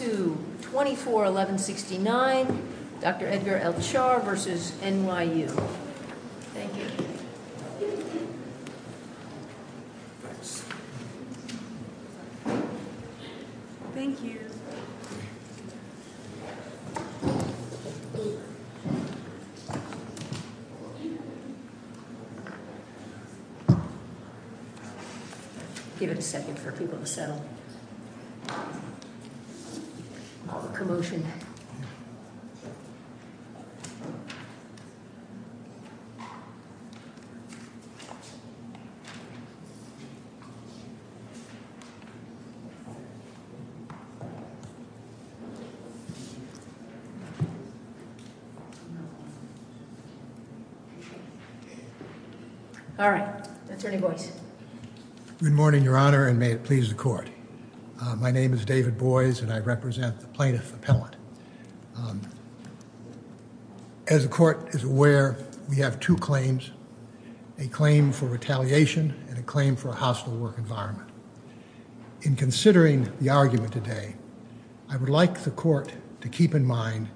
24-1169 Dr. Edgar L. Chaar v. NYU All the commotion. All right. Attorney Boyce. Good morning, Your Honor, and may it please the court. My name is David Boyce, and I represent the plaintiff appellant. As the court is aware, we have two claims, a claim for retaliation and a claim for a hostile work environment. In considering the argument today, I would like the court to keep in mind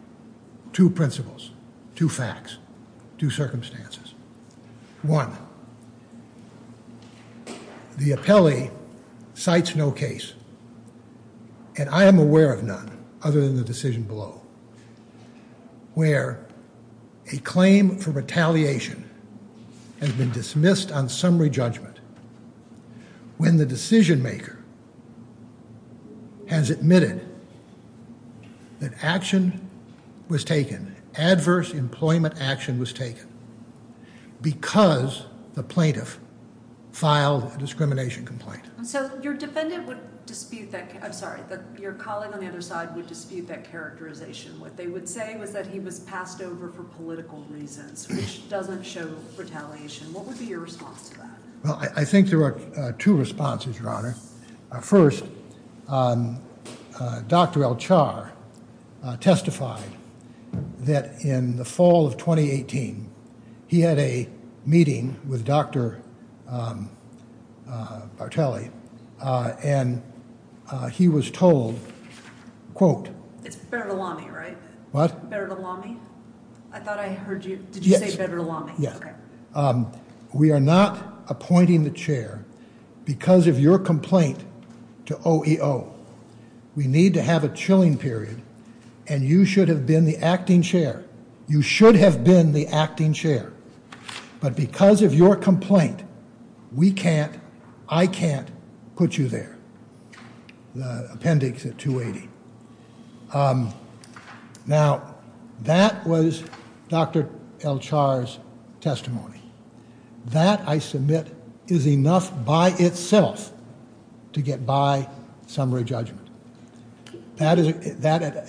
two principles, two facts, two circumstances. One, the appellee cites no case, and I am aware of none other than the decision below, where a claim for retaliation has been dismissed on summary judgment when the decision maker has admitted that action was taken, adverse employment action was taken, because the plaintiff filed a discrimination complaint. So your defendant would dispute that, I'm sorry, your colleague on the other side would dispute that characterization. What they would say was that he was passed over for political reasons, which doesn't show retaliation. What would be your response to that? Well, I think there are two responses, Your Honor. First, Dr. Elchar testified that in the fall of 2018, he had a meeting with Dr. Bartelli, and he was told, quote. It's better to lie me, right? What? Better to lie me. I thought I heard you. Did you say better to lie me? Yes. We are not appointing the chair because of your complaint to OEO. We need to have a chilling period, and you should have been the acting chair. You should have been the acting chair, but because of your complaint, we can't, I can't put you there. The appendix at 280. Now, that was Dr. Elchar's testimony. That, I submit, is enough by itself to get by summary judgment. That,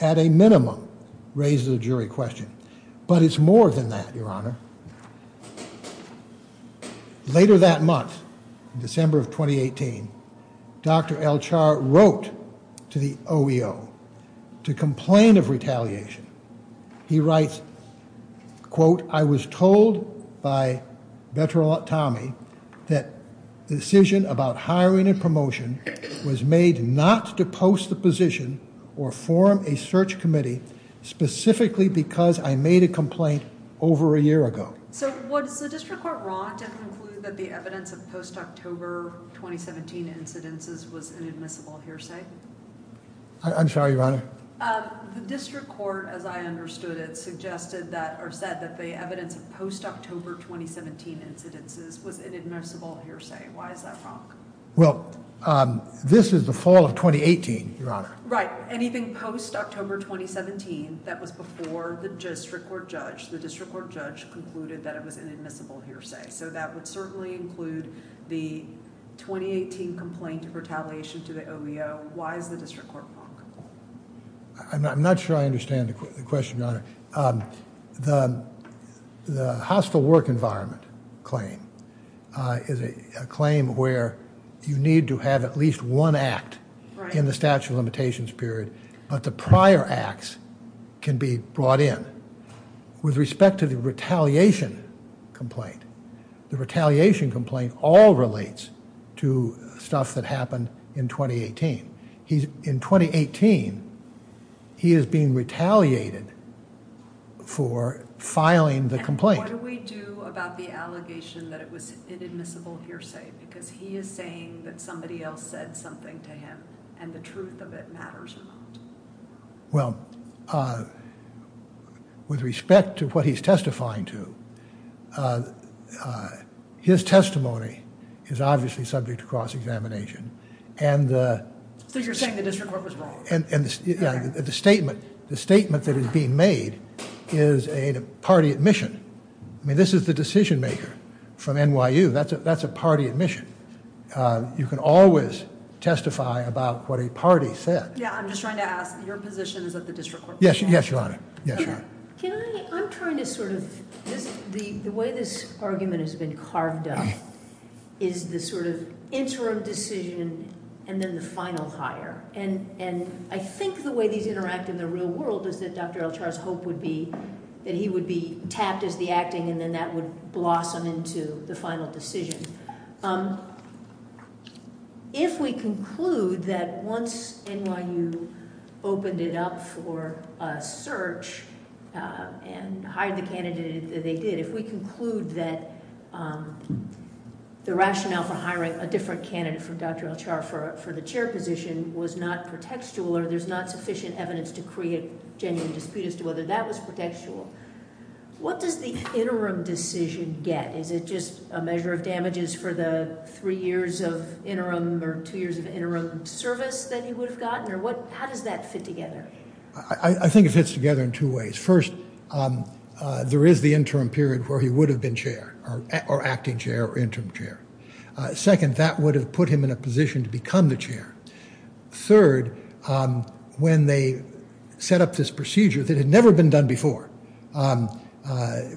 at a minimum, raises a jury question, but it's more than that, Your Honor. Later that month, December of 2018, Dr. Elchar wrote to the OEO to complain of retaliation. He writes, quote, I was told by Veteran Tommy that the decision about hiring and promotion was made not to post the position or form a search committee, specifically because I made a complaint over a year ago. So, was the district court wrong to conclude that the evidence of post-October 2017 incidences was an admissible hearsay? I'm sorry, Your Honor. The district court, as I understood it, suggested that, or said that the evidence of post-October 2017 incidences was an admissible hearsay. Why is that wrong? Well, this is the fall of 2018, Your Honor. Right. Anything post-October 2017 that was before the district court judge, the district court judge concluded that it was an admissible hearsay. So, that would certainly include the 2018 complaint of retaliation to the OEO. Why is the district court wrong? I'm not sure I understand the question, Your Honor. The hostile work environment claim is a claim where you need to have at least one act in the statute of limitations period, but the prior acts can be brought in. With respect to the retaliation complaint, the retaliation complaint all relates to stuff that happened in 2018. In 2018, he is being retaliated for filing the complaint. And what do we do about the allegation that it was an admissible hearsay? Because he is saying that somebody else said something to him, and the truth of it matters a lot. Well, with respect to what he's testifying to, his testimony is obviously subject to cross-examination. So, you're saying the district court was wrong? The statement that is being made is a party admission. I mean, this is the decision-maker from NYU. That's a party admission. You can always testify about what a party said. Yeah, I'm just trying to ask, your position is that the district court was wrong? Yes, Your Honor. Can I, I'm trying to sort of, the way this argument has been carved up is the sort of interim decision and then the final hire. And I think the way these interact in the real world is that Dr. Elchar's hope would be that he would be tapped as the acting, and then that would blossom into the final decision. If we conclude that once NYU opened it up for a search and hired the candidate that they did, if we conclude that the rationale for hiring a different candidate from Dr. Elchar for the chair position was not pretextual, or there's not sufficient evidence to create genuine dispute as to whether that was pretextual, what does the interim decision get? Is it just a measure of damages for the three years of interim or two years of interim service that he would have gotten? Or what, how does that fit together? I think it fits together in two ways. First, there is the interim period where he would have been chair, or acting chair or interim chair. Second, that would have put him in a position to become the chair. Third, when they set up this procedure that had never been done before,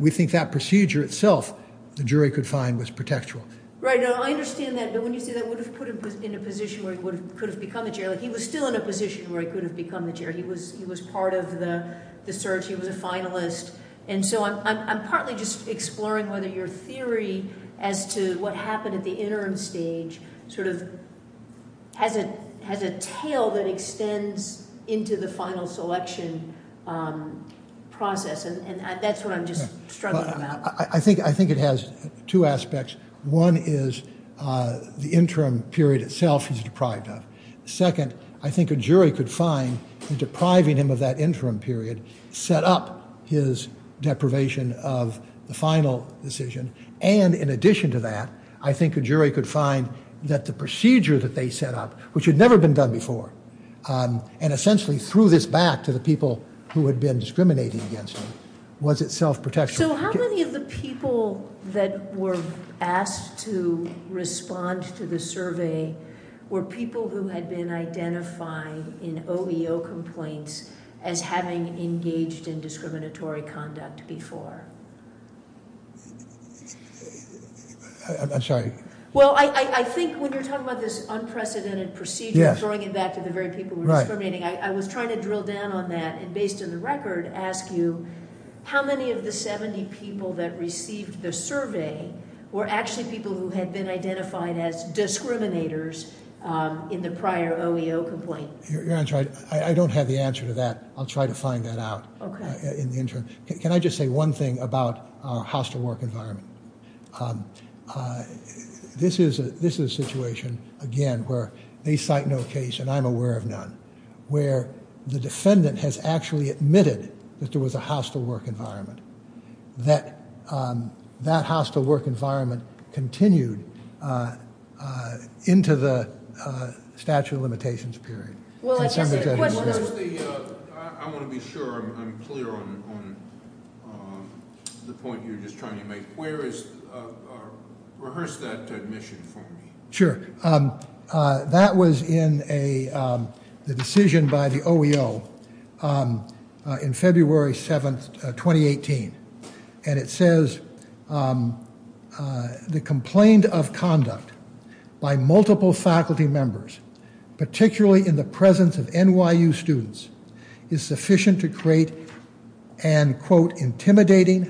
we think that procedure itself the jury could find was pretextual. Right. I understand that. But when you say that would have put him in a position where he could have become the chair, he was still in a position where he could have become the chair. He was part of the search. He was a finalist. And so I'm partly just exploring whether your theory as to what happened at the interim stage sort of has a tail that extends into the final selection process. And that's what I'm just struggling about. I think it has two aspects. One is the interim period itself he's deprived of. Second, I think a jury could find in depriving him of that interim period set up his deprivation of the final decision. And in addition to that, I think a jury could find that the procedure that they set up, which had never been done before, and essentially threw this back to the people who had been discriminating against him, was itself pretextual. So how many of the people that were asked to respond to the survey were people who had been identified in OEO complaints as having engaged in discriminatory conduct before? Well, I think when you're talking about this unprecedented procedure, throwing it back to the very people who were discriminating, I was trying to drill down on that and, based on the record, ask you, how many of the 70 people that received the survey were actually people who had been identified as discriminators in the prior OEO complaint? You're right. I don't have the answer to that. I'll try to find that out in the interim. Can I just say one thing about our hostile work environment? This is a situation, again, where they cite no case and I'm aware of none, where the defendant has actually admitted that there was a hostile work environment, that that hostile work environment continued into the statute of limitations period. I want to be sure I'm clear on the point you're just trying to make. Rehearse that admission for me. Sure. That was in the decision by the OEO in February 7, 2018, and it says the complaint of conduct by multiple faculty members, particularly in the presence of NYU students, is sufficient to create an, quote, Accordingly,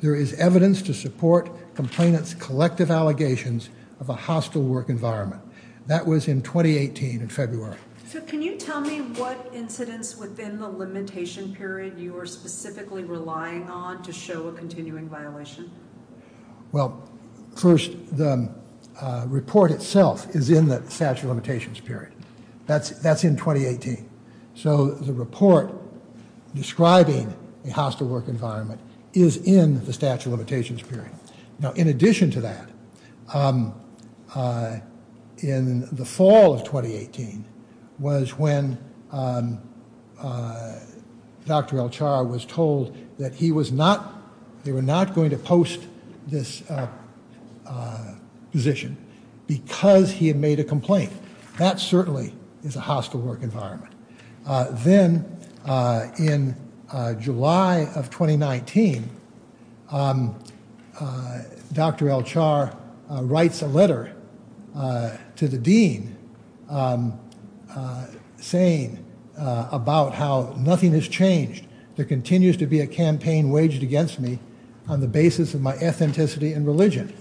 there is evidence to support complainants' collective allegations of a hostile work environment. That was in 2018 in February. So can you tell me what incidents within the limitation period you are specifically relying on to show a continuing violation? Well, first, the report itself is in the statute of limitations period. That's in 2018. So the report describing a hostile work environment is in the statute of limitations period. Now, in addition to that, in the fall of 2018 was when Dr. El-Char was told that he was not, they were not going to post this position because he had made a complaint. That certainly is a hostile work environment. Then in July of 2019, Dr. El-Char writes a letter to the dean saying about how nothing has changed. There continues to be a campaign waged against me on the basis of my ethnicity and religion.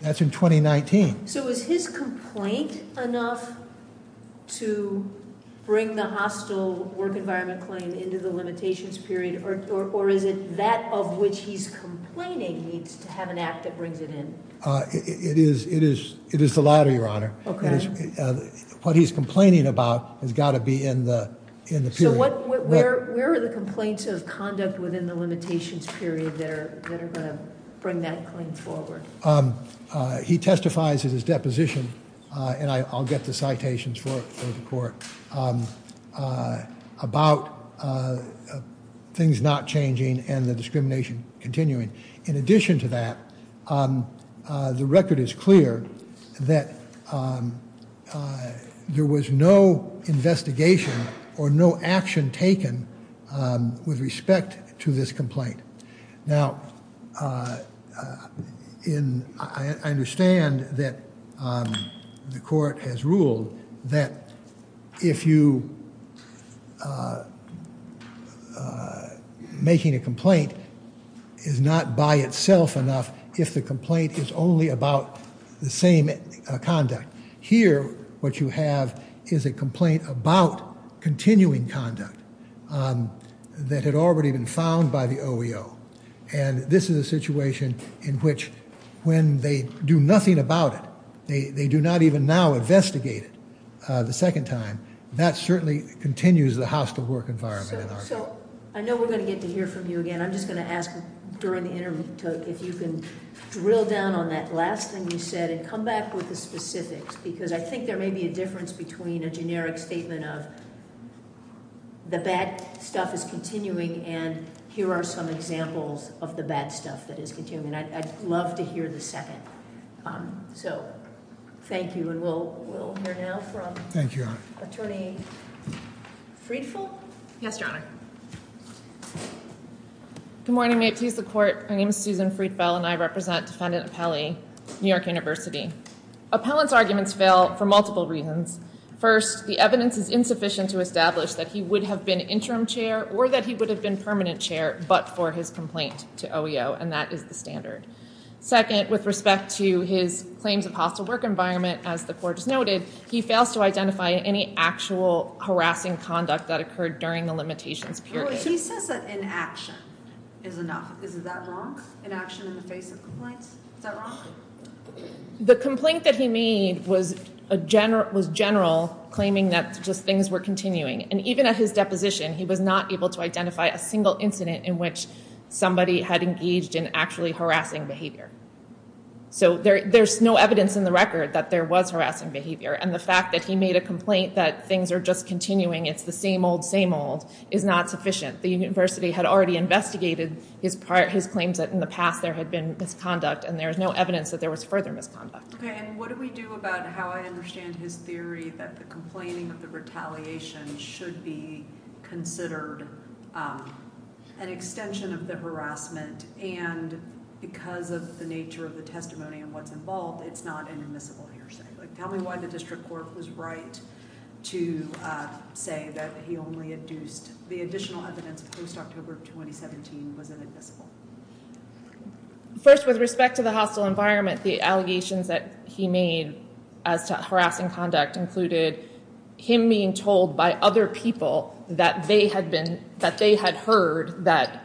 That's in 2019. So is his complaint enough to bring the hostile work environment claim into the limitations period, or is it that of which he's complaining needs to have an act that brings it in? It is the latter, Your Honor. Okay. What he's complaining about has got to be in the period. So where are the complaints of conduct within the limitations period that are going to bring that claim forward? He testifies in his deposition, and I'll get the citations for the court, about things not changing and the discrimination continuing. In addition to that, the record is clear that there was no investigation or no action taken with respect to this complaint. Now, I understand that the court has ruled that if you making a complaint is not by itself enough, if the complaint is only about the same conduct. Here, what you have is a complaint about continuing conduct that had already been found by the OEO, and this is a situation in which when they do nothing about it, they do not even now investigate it the second time. That certainly continues the hostile work environment. So I know we're going to get to hear from you again. I'm just going to ask during the interview if you can drill down on that last thing you said and come back with the specifics because I think there may be a difference between a generic statement of the bad stuff is continuing and here are some examples of the bad stuff that is continuing. I'd love to hear the second. So thank you, and we'll hear now from Attorney Freedfeld. Yes, Your Honor. Good morning. May it please the Court. My name is Susan Freedfeld, and I represent Defendant Appelli, New York University. Appellant's arguments fail for multiple reasons. First, the evidence is insufficient to establish that he would have been interim chair or that he would have been permanent chair but for his complaint to OEO, and that is the standard. Second, with respect to his claims of hostile work environment, as the Court has noted, he fails to identify any actual harassing conduct that occurred during the limitations period. He says that inaction is enough. Is that wrong, inaction in the face of complaints? Is that wrong? The complaint that he made was general, claiming that just things were continuing, and even at his deposition, he was not able to identify a single incident in which somebody had engaged in actually harassing behavior. So there's no evidence in the record that there was harassing behavior, and the fact that he made a complaint that things are just continuing, it's the same old, same old, is not sufficient. The university had already investigated his claims that in the past there had been misconduct, and there is no evidence that there was further misconduct. Okay, and what do we do about how I understand his theory that the complaining of the retaliation should be considered an extension of the harassment, and because of the nature of the testimony and what's involved, it's not an admissible hearsay? Tell me why the District Court was right to say that he only induced the additional evidence post-October of 2017 was inadmissible. First, with respect to the hostile environment, the allegations that he made as to harassing conduct included him being told by other people that they had heard that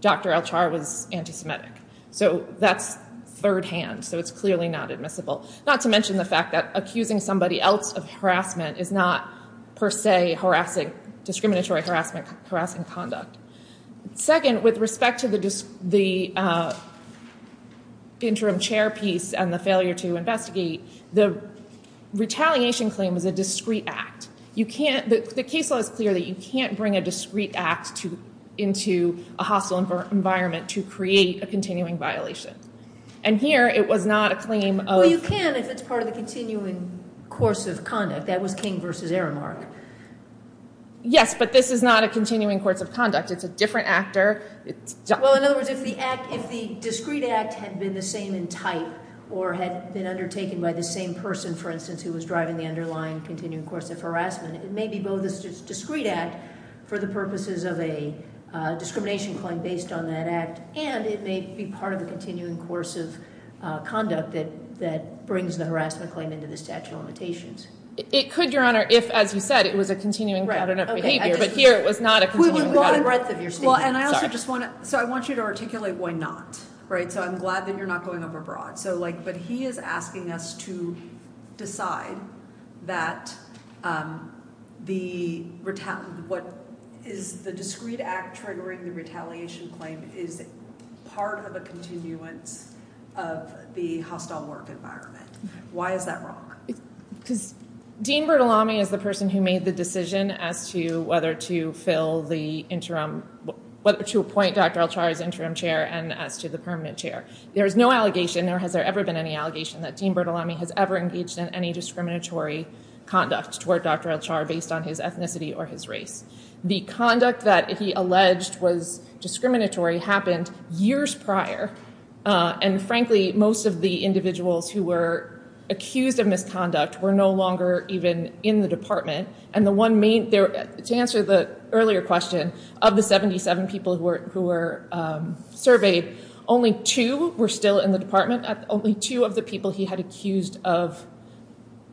Dr. El-Char was anti-Semitic. So that's third-hand, so it's clearly not admissible. Not to mention the fact that accusing somebody else of harassment is not per se harassing, discriminatory harassment, harassing conduct. Second, with respect to the interim chair piece and the failure to investigate, the retaliation claim is a discrete act. The case law is clear that you can't bring a discrete act into a hostile environment to create a continuing violation, and here it was not a claim of... Well, you can if it's part of the continuing course of conduct. That was King v. Aramark. Yes, but this is not a continuing course of conduct. It's a different actor. Well, in other words, if the discrete act had been the same in type or had been undertaken by the same person, for instance, who was driving the underlying continuing course of harassment, it may be both a discrete act for the purposes of a discrimination claim based on that act, and it may be part of the continuing course of conduct that brings the harassment claim into the statute of limitations. It could, Your Honor, if, as you said, it was a continuing pattern of behavior, but here it was not a continuing pattern of behavior. So I want you to articulate why not, right? So I'm glad that you're not going overbroad, but he is asking us to decide that the discrete act triggering the retaliation claim is part of a continuance of the hostile work environment. Why is that wrong? Because Dean Bertolami is the person who made the decision as to whether to fill the interim, whether to appoint Dr. Elchar as interim chair and as to the permanent chair. There is no allegation, or has there ever been any allegation, that Dean Bertolami has ever engaged in any discriminatory conduct toward Dr. Elchar based on his ethnicity or his race. The conduct that he alleged was discriminatory happened years prior, and frankly, most of the individuals who were accused of misconduct were no longer even in the department. To answer the earlier question, of the 77 people who were surveyed, only two were still in the department. Only two of the people he had accused of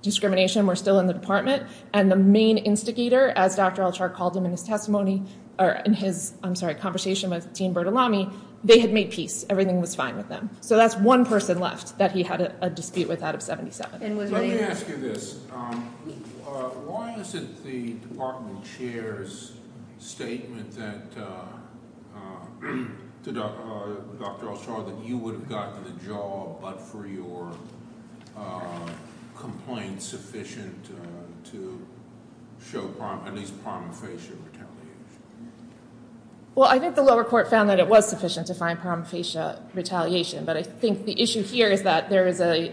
discrimination were still in the department, and the main instigator, as Dr. Elchar called him in his testimony, or in his conversation with Dean Bertolami, they had made peace. Everything was fine with them. So that's one person left that he had a dispute with out of 77. Let me ask you this. Why isn't the department chair's statement to Dr. Elchar that you would have gotten the job but for your complaint sufficient to show at least prima facie retaliation? Well, I think the lower court found that it was sufficient to find prima facie retaliation, but I think the issue here is that the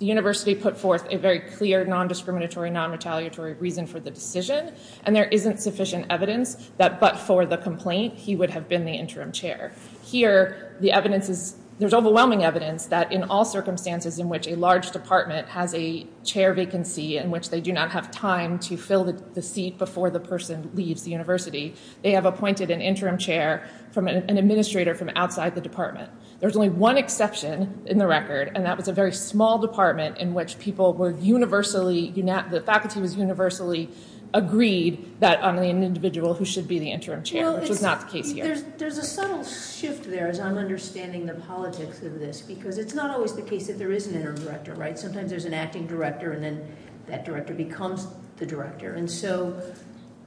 university put forth a very clear non-discriminatory, non-retaliatory reason for the decision, and there isn't sufficient evidence that but for the complaint, he would have been the interim chair. Here, there's overwhelming evidence that in all circumstances in which a large department has a chair vacancy in which they do not have time to fill the seat before the person leaves the university, they have appointed an interim chair from an administrator from outside the department. There's only one exception in the record, and that was a very small department in which the faculty was universally agreed that an individual who should be the interim chair, which was not the case here. There's a subtle shift there as I'm understanding the politics of this because it's not always the case that there is an interim director. Sometimes there's an acting director, and then that director becomes the director.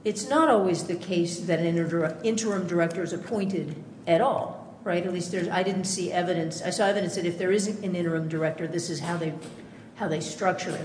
It's not always the case that an interim director is appointed at all. At least I didn't see evidence. I saw evidence that if there is an interim director, this is how they structure it.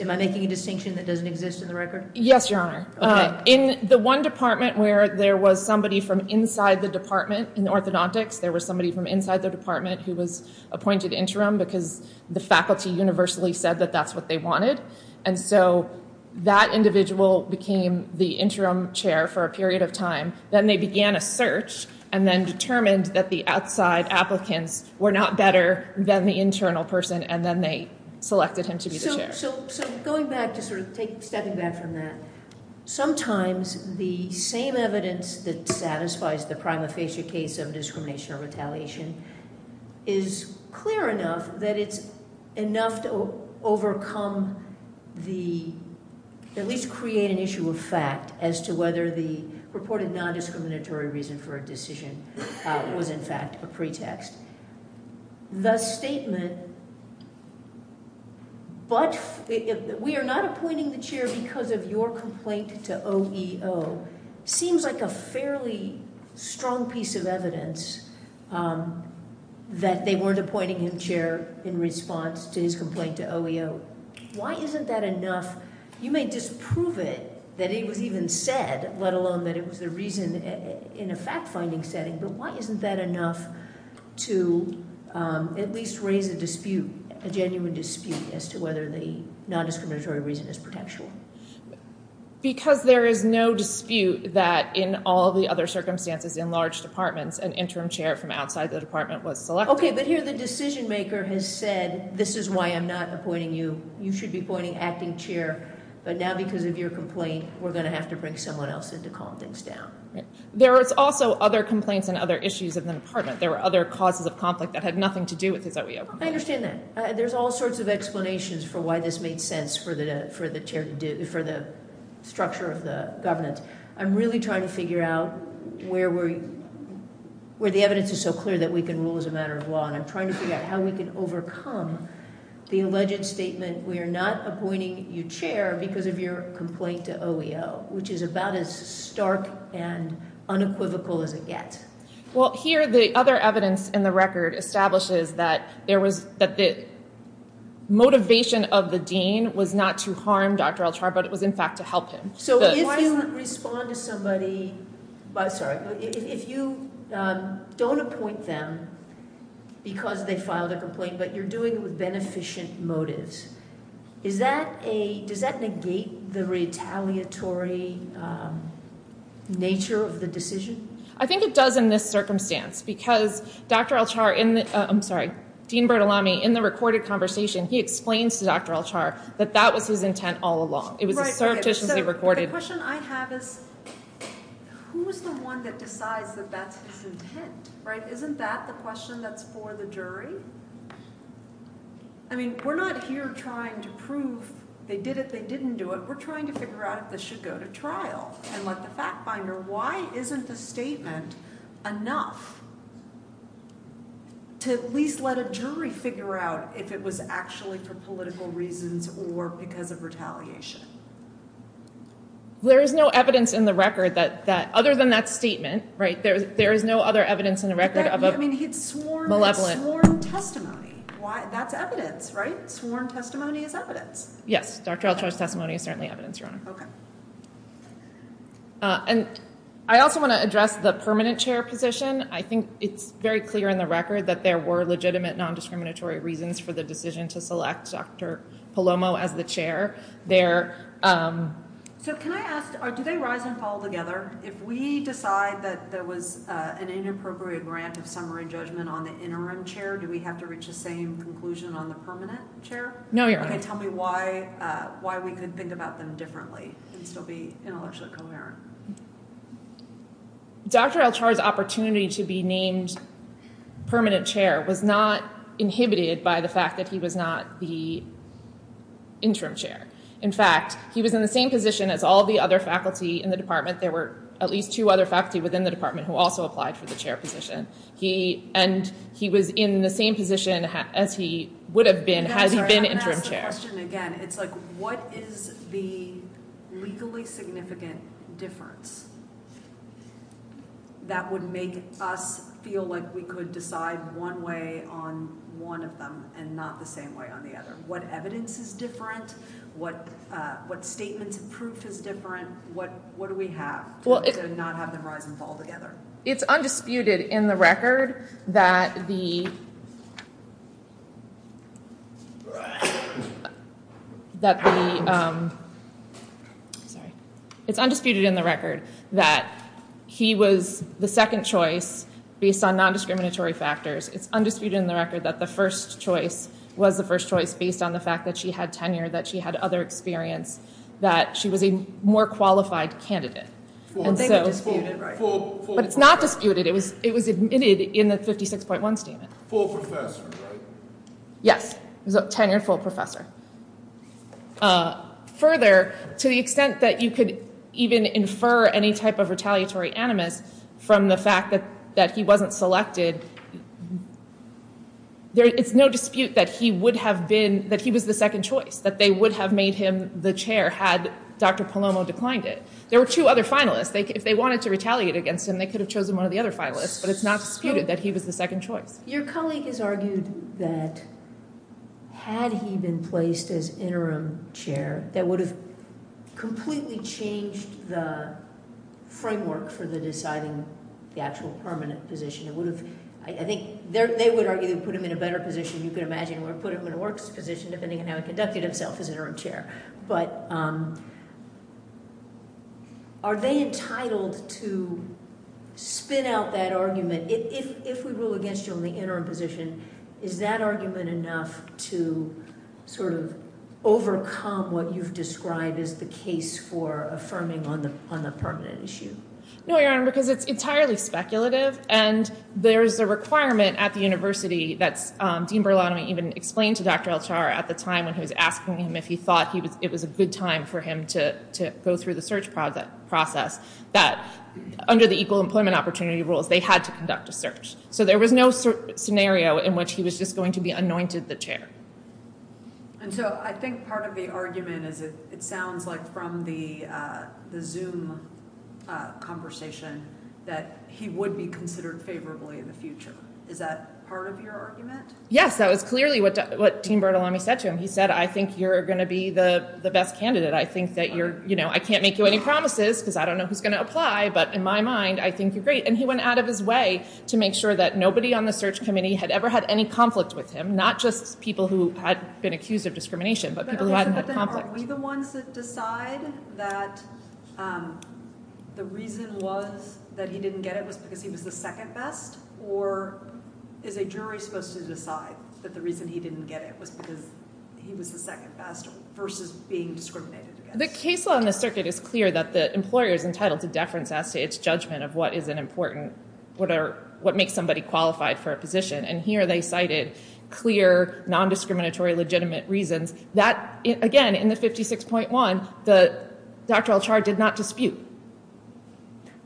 Am I making a distinction that doesn't exist in the record? Yes, Your Honor. In the one department where there was somebody from inside the department in orthodontics, there was somebody from inside the department who was appointed interim because the faculty universally said that that's what they wanted. And so that individual became the interim chair for a period of time. Then they began a search and then determined that the outside applicants were not better than the internal person, and then they selected him to be the chair. So going back to sort of stepping back from that, sometimes the same evidence that satisfies the prima facie case of discrimination or retaliation is clear enough that it's enough to overcome the, at least create an issue of fact as to whether the reported non-discriminatory reason for a decision was in fact a pretext. The statement, but we are not appointing the chair because of your complaint to OEO, seems like a fairly strong piece of evidence that they weren't appointing him chair in response to his complaint to OEO. Why isn't that enough? You may disprove it, that it was even said, let alone that it was the reason in a fact-finding setting, but why isn't that enough to at least raise a dispute, a genuine dispute as to whether the non-discriminatory reason is potential? Because there is no dispute that in all the other circumstances in large departments, an interim chair from outside the department was selected. Okay, but here the decision maker has said, this is why I'm not appointing you, you should be appointing acting chair, but now because of your complaint, we're going to have to bring someone else in to calm things down. There was also other complaints and other issues of the department. There were other causes of conflict that had nothing to do with his OEO. I understand that. There's all sorts of explanations for why this made sense for the structure of the governance. I'm really trying to figure out where the evidence is so clear that we can rule as a matter of law, and I'm trying to figure out how we can overcome the alleged statement, we are not appointing you chair because of your complaint to OEO, which is about as stark and unequivocal as it gets. Well, here the other evidence in the record establishes that the motivation of the dean was not to harm Dr. Al-Jarrah, but it was in fact to help him. So if you don't appoint them because they filed a complaint, but you're doing it with beneficent motives, does that negate the retaliatory nature of the decision? I think it does in this circumstance because Dean Bertolami, in the recorded conversation, he explains to Dr. Al-Jarrah that that was his intent all along. It was surreptitiously recorded. The question I have is who is the one that decides that that's his intent? Isn't that the question that's for the jury? I mean, we're not here trying to prove they did it, they didn't do it. We're trying to figure out if this should go to trial and let the fact finder, why isn't the statement enough to at least let a jury figure out if it was actually for political reasons or because of retaliation? There is no evidence in the record that, other than that statement, there is no other evidence in the record of a malevolent. I mean, he had sworn testimony. That's evidence, right? Sworn testimony is evidence. Yes, Dr. Al-Jarrah's testimony is certainly evidence, Your Honor. And I also want to address the permanent chair position. I think it's very clear in the record that there were legitimate, nondiscriminatory reasons for the decision to select Dr. Palomo as the chair there. So can I ask, do they rise and fall together? If we decide that there was an inappropriate grant of summary judgment on the interim chair, do we have to reach the same conclusion on the permanent chair? No, Your Honor. Okay, tell me why we could think about them differently and still be intellectually coherent. Dr. Al-Jarrah's opportunity to be named permanent chair was not inhibited by the fact that he was not the interim chair. In fact, he was in the same position as all the other faculty in the department. There were at least two other faculty within the department who also applied for the chair position. And he was in the same position as he would have been had he been interim chair. My question, again, it's like what is the legally significant difference that would make us feel like we could decide one way on one of them and not the same way on the other? What evidence is different? What statements of proof is different? What do we have to not have them rise and fall together? It's undisputed in the record that he was the second choice based on non-discriminatory factors. It's undisputed in the record that the first choice was the first choice based on the fact that she had tenure, that she had other experience, that she was a more qualified candidate. But it's not disputed, it was admitted in the 56.1 statement. Full professor, right? Yes, he was a tenured full professor. Further, to the extent that you could even infer any type of retaliatory animus from the fact that he wasn't selected, it's no dispute that he would have been, that he was the second choice, that they would have made him the chair had Dr. Palomo declined it. There were two other finalists. If they wanted to retaliate against him, they could have chosen one of the other finalists, but it's not disputed that he was the second choice. Your colleague has argued that had he been placed as interim chair, that would have completely changed the framework for the deciding the actual permanent position. I think they would argue they would have put him in a better position, you can imagine, or put him in a worse position depending on how he conducted himself as interim chair. But are they entitled to spin out that argument? If we rule against you on the interim position, is that argument enough to sort of overcome what you've described as the case for affirming on the permanent issue? No, Your Honor, because it's entirely speculative, and there is a requirement at the university that Dean Berlanti even explained to Dr. El-Tar at the time when he was asking him if he thought it was a good time for him to go through the search process, that under the equal employment opportunity rules, they had to conduct a search. So there was no scenario in which he was just going to be anointed the chair. And so I think part of the argument is it sounds like from the Zoom conversation that he would be considered favorably in the future. Is that part of your argument? Yes, that was clearly what Dean Bertolami said to him. He said, I think you're going to be the best candidate. I think that you're, you know, I can't make you any promises because I don't know who's going to apply, but in my mind, I think you're great. And he went out of his way to make sure that nobody on the search committee had ever had any conflict with him, not just people who had been accused of discrimination, but people who hadn't had conflict. Are we the ones that decide that the reason was that he didn't get it was because he was the second best, or is a jury supposed to decide that the reason he didn't get it was because he was the second best versus being discriminated against? The case law in the circuit is clear that the employer is entitled to deference as to its judgment of what is an important, what makes somebody qualified for a position. And here they cited clear, nondiscriminatory, legitimate reasons. That, again, in the 56.1, the doctoral charge did not dispute.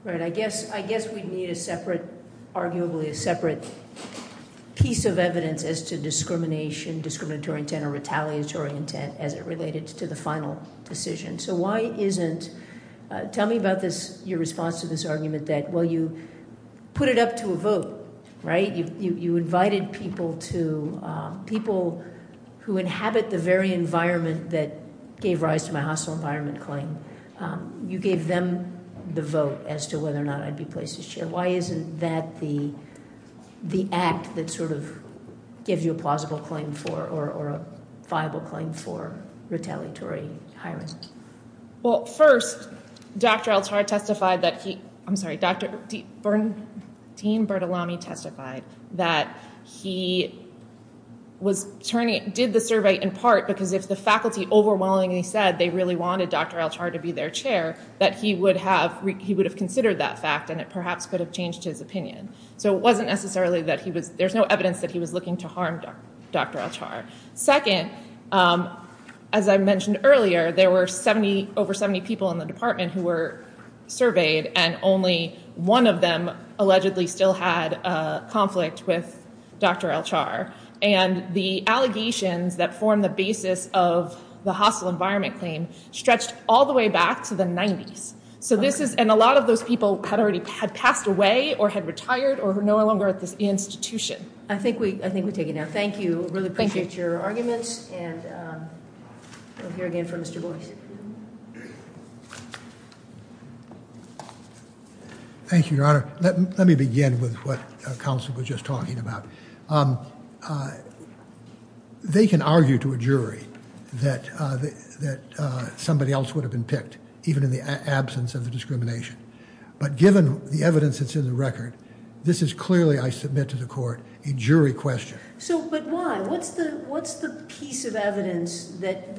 Right. I guess we need a separate, arguably a separate piece of evidence as to discrimination, discriminatory intent, or retaliatory intent as it related to the final decision. So why isn't, tell me about this, your response to this argument that, well, you put it up to a vote, right? You invited people to, people who inhabit the very environment that gave rise to my hostile environment claim. You gave them the vote as to whether or not I'd be placed as chair. Why isn't that the act that sort of gives you a plausible claim for or a viable claim for retaliatory hiring? Well, first, Dr. El-Tar testified that he, I'm sorry, Dean Bertolami testified that he did the survey in part because if the faculty overwhelmingly said they really wanted Dr. El-Tar to be their chair, that he would have considered that fact and it perhaps could have changed his opinion. So it wasn't necessarily that he was, there's no evidence that he was looking to harm Dr. El-Tar. Second, as I mentioned earlier, there were 70, over 70 people in the department who were surveyed and only one of them allegedly still had a conflict with Dr. El-Tar. And the allegations that form the basis of the hostile environment claim stretched all the way back to the 90s. So this is, and a lot of those people had already, had passed away or had retired or were no longer at this institution. I think we take it now. Thank you. I really appreciate your arguments and we'll hear again from Mr. Boyce. Thank you, Your Honor. Let me begin with what counsel was just talking about. They can argue to a jury that somebody else would have been picked, even in the absence of the discrimination. But given the evidence that's in the record, this is clearly, I submit to the court, a jury question. So, but why? What's the piece of evidence that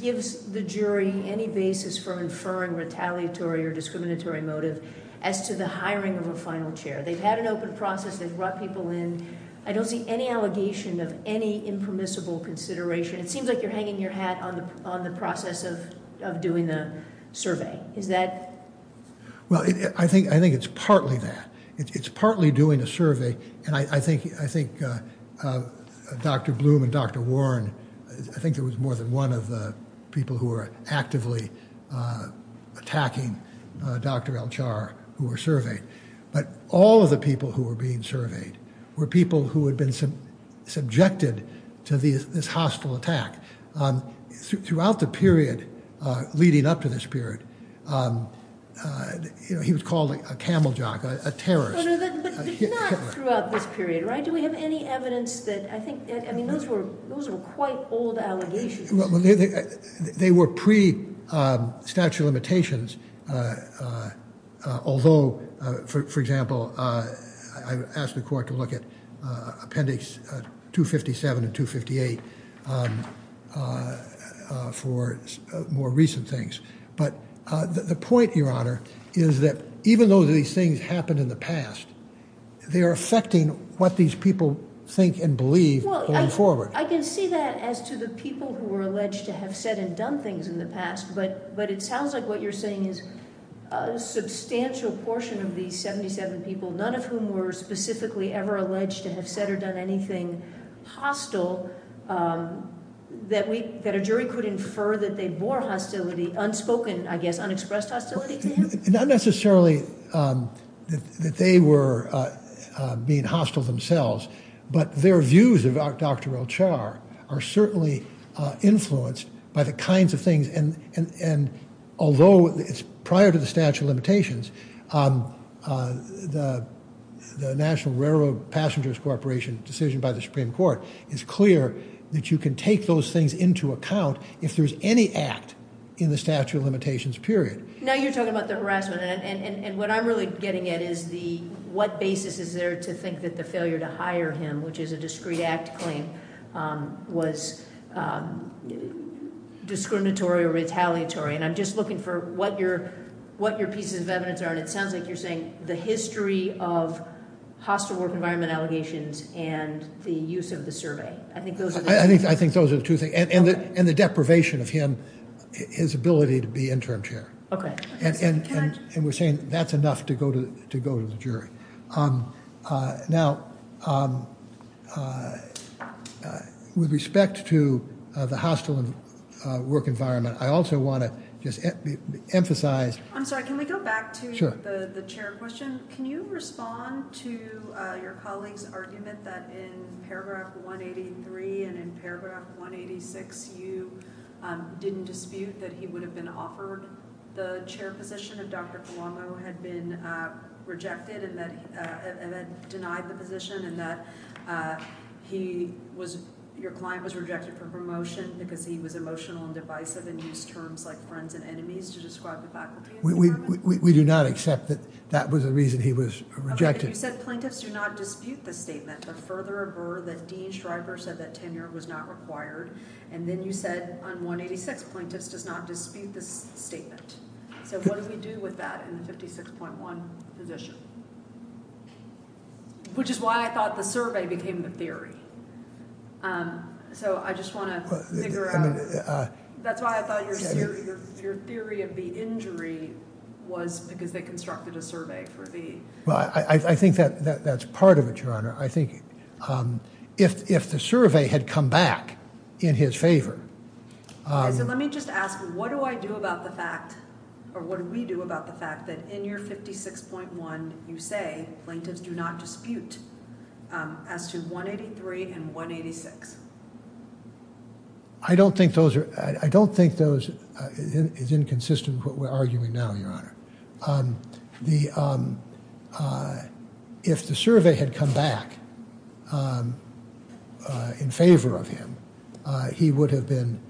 gives the jury any basis for inferring retaliatory or discriminatory motive as to the hiring of a final chair? They've had an open process, they've brought people in. I don't see any allegation of any impermissible consideration. It seems like you're hanging your hat on the process of doing the survey. Is that? Well, I think it's partly that. It's partly doing a survey and I think Dr. Bloom and Dr. Warren, I think there was more than one of the people who were actively attacking Dr. El-Char who were surveyed. But all of the people who were being surveyed were people who had been subjected to this hostile attack. Throughout the period leading up to this period, he was called a camel jock, a terrorist. But not throughout this period, right? Do we have any evidence that, I mean, those were quite old allegations. They were pre-statute of limitations, although, for example, I've asked the court to look at appendix 257 and 258 for more recent things. But the point, Your Honor, is that even though these things happened in the past, they are affecting what these people think and believe going forward. I can see that as to the people who were alleged to have said and done things in the past, but it sounds like what you're saying is a substantial portion of these 77 people, none of whom were specifically ever alleged to have said or done anything hostile, that a jury could infer that they bore hostility, unspoken, I guess, unexpressed hostility to him? Not necessarily that they were being hostile themselves, but their views about Dr. El-Char are certainly influenced by the kinds of things and although it's prior to the statute of limitations, the National Railroad Passengers Corporation decision by the Supreme Court is clear that you can take those things into account if there's any act in the statute of limitations period. Now you're talking about the harassment, and what I'm really getting at is the, what basis is there to think that the failure to hire him, which is a discreet act claim, was discriminatory or retaliatory? And I'm just looking for what your pieces of evidence are, and it sounds like you're saying the history of hostile work environment allegations and the use of the survey. I think those are the two things. I think those are the two things, and the deprivation of him, his ability to be interim chair. Okay. And we're saying that's enough to go to the jury. Now, with respect to the hostile work environment, I also want to just emphasize. I'm sorry, can we go back to the chair question? Can you respond to your colleague's argument that in paragraph 183 and in paragraph 186 you didn't dispute that he would have been offered the chair position if Dr. Colombo had been rejected and denied the position and that your client was rejected for promotion because he was emotional and divisive and used terms like friends and enemies to describe the faculty environment? We do not accept that that was the reason he was rejected. Okay, and you said plaintiffs do not dispute this statement, but further avert that Dean Shriver said that tenure was not required, and then you said on 186 plaintiffs does not dispute this statement. So what do we do with that in the 56.1 position? Which is why I thought the survey became the theory. So I just want to figure out. That's why I thought your theory of the injury was because they constructed a survey for the. Well, I think that's part of it, Your Honor. I think if the survey had come back in his favor. So let me just ask you, what do I do about the fact, or what do we do about the fact that in your 56.1 you say plaintiffs do not dispute as to 183 and 186? I don't think those are, I don't think those is inconsistent with what we're arguing now, Your Honor. If the survey had come back in favor of him, he would have been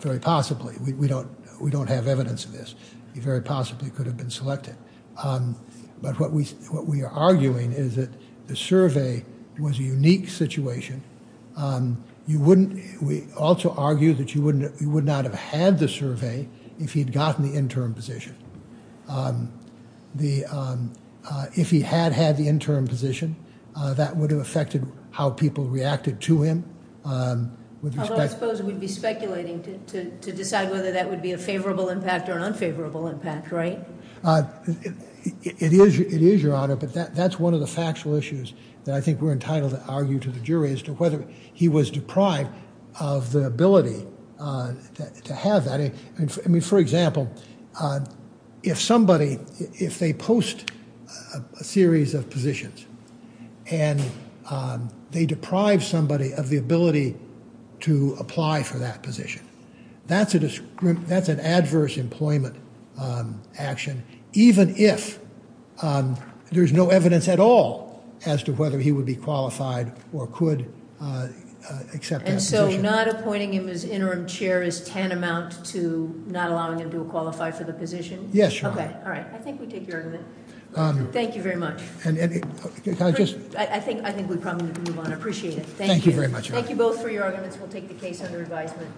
very possibly, we don't have evidence of this, he very possibly could have been selected. But what we are arguing is that the survey was a unique situation. We also argue that he would not have had the survey if he had gotten the interim position. If he had had the interim position, that would have affected how people reacted to him. Although I suppose we'd be speculating to decide whether that would be a favorable impact or an unfavorable impact, right? It is, Your Honor. But that's one of the factual issues that I think we're entitled to argue to the jury as to whether he was deprived of the ability to have that. I mean, for example, if somebody, if they post a series of positions and they deprive somebody of the ability to apply for that position, that's an adverse employment action, even if there's no evidence at all as to whether he would be qualified or could accept that position. And so not appointing him as interim chair is tantamount to not allowing him to qualify for the position? Yes, Your Honor. Okay, all right, I think we take your argument. Thank you very much. I think we probably can move on. I appreciate it. Thank you. Thank you very much, Your Honor. We'll take the case under advisement.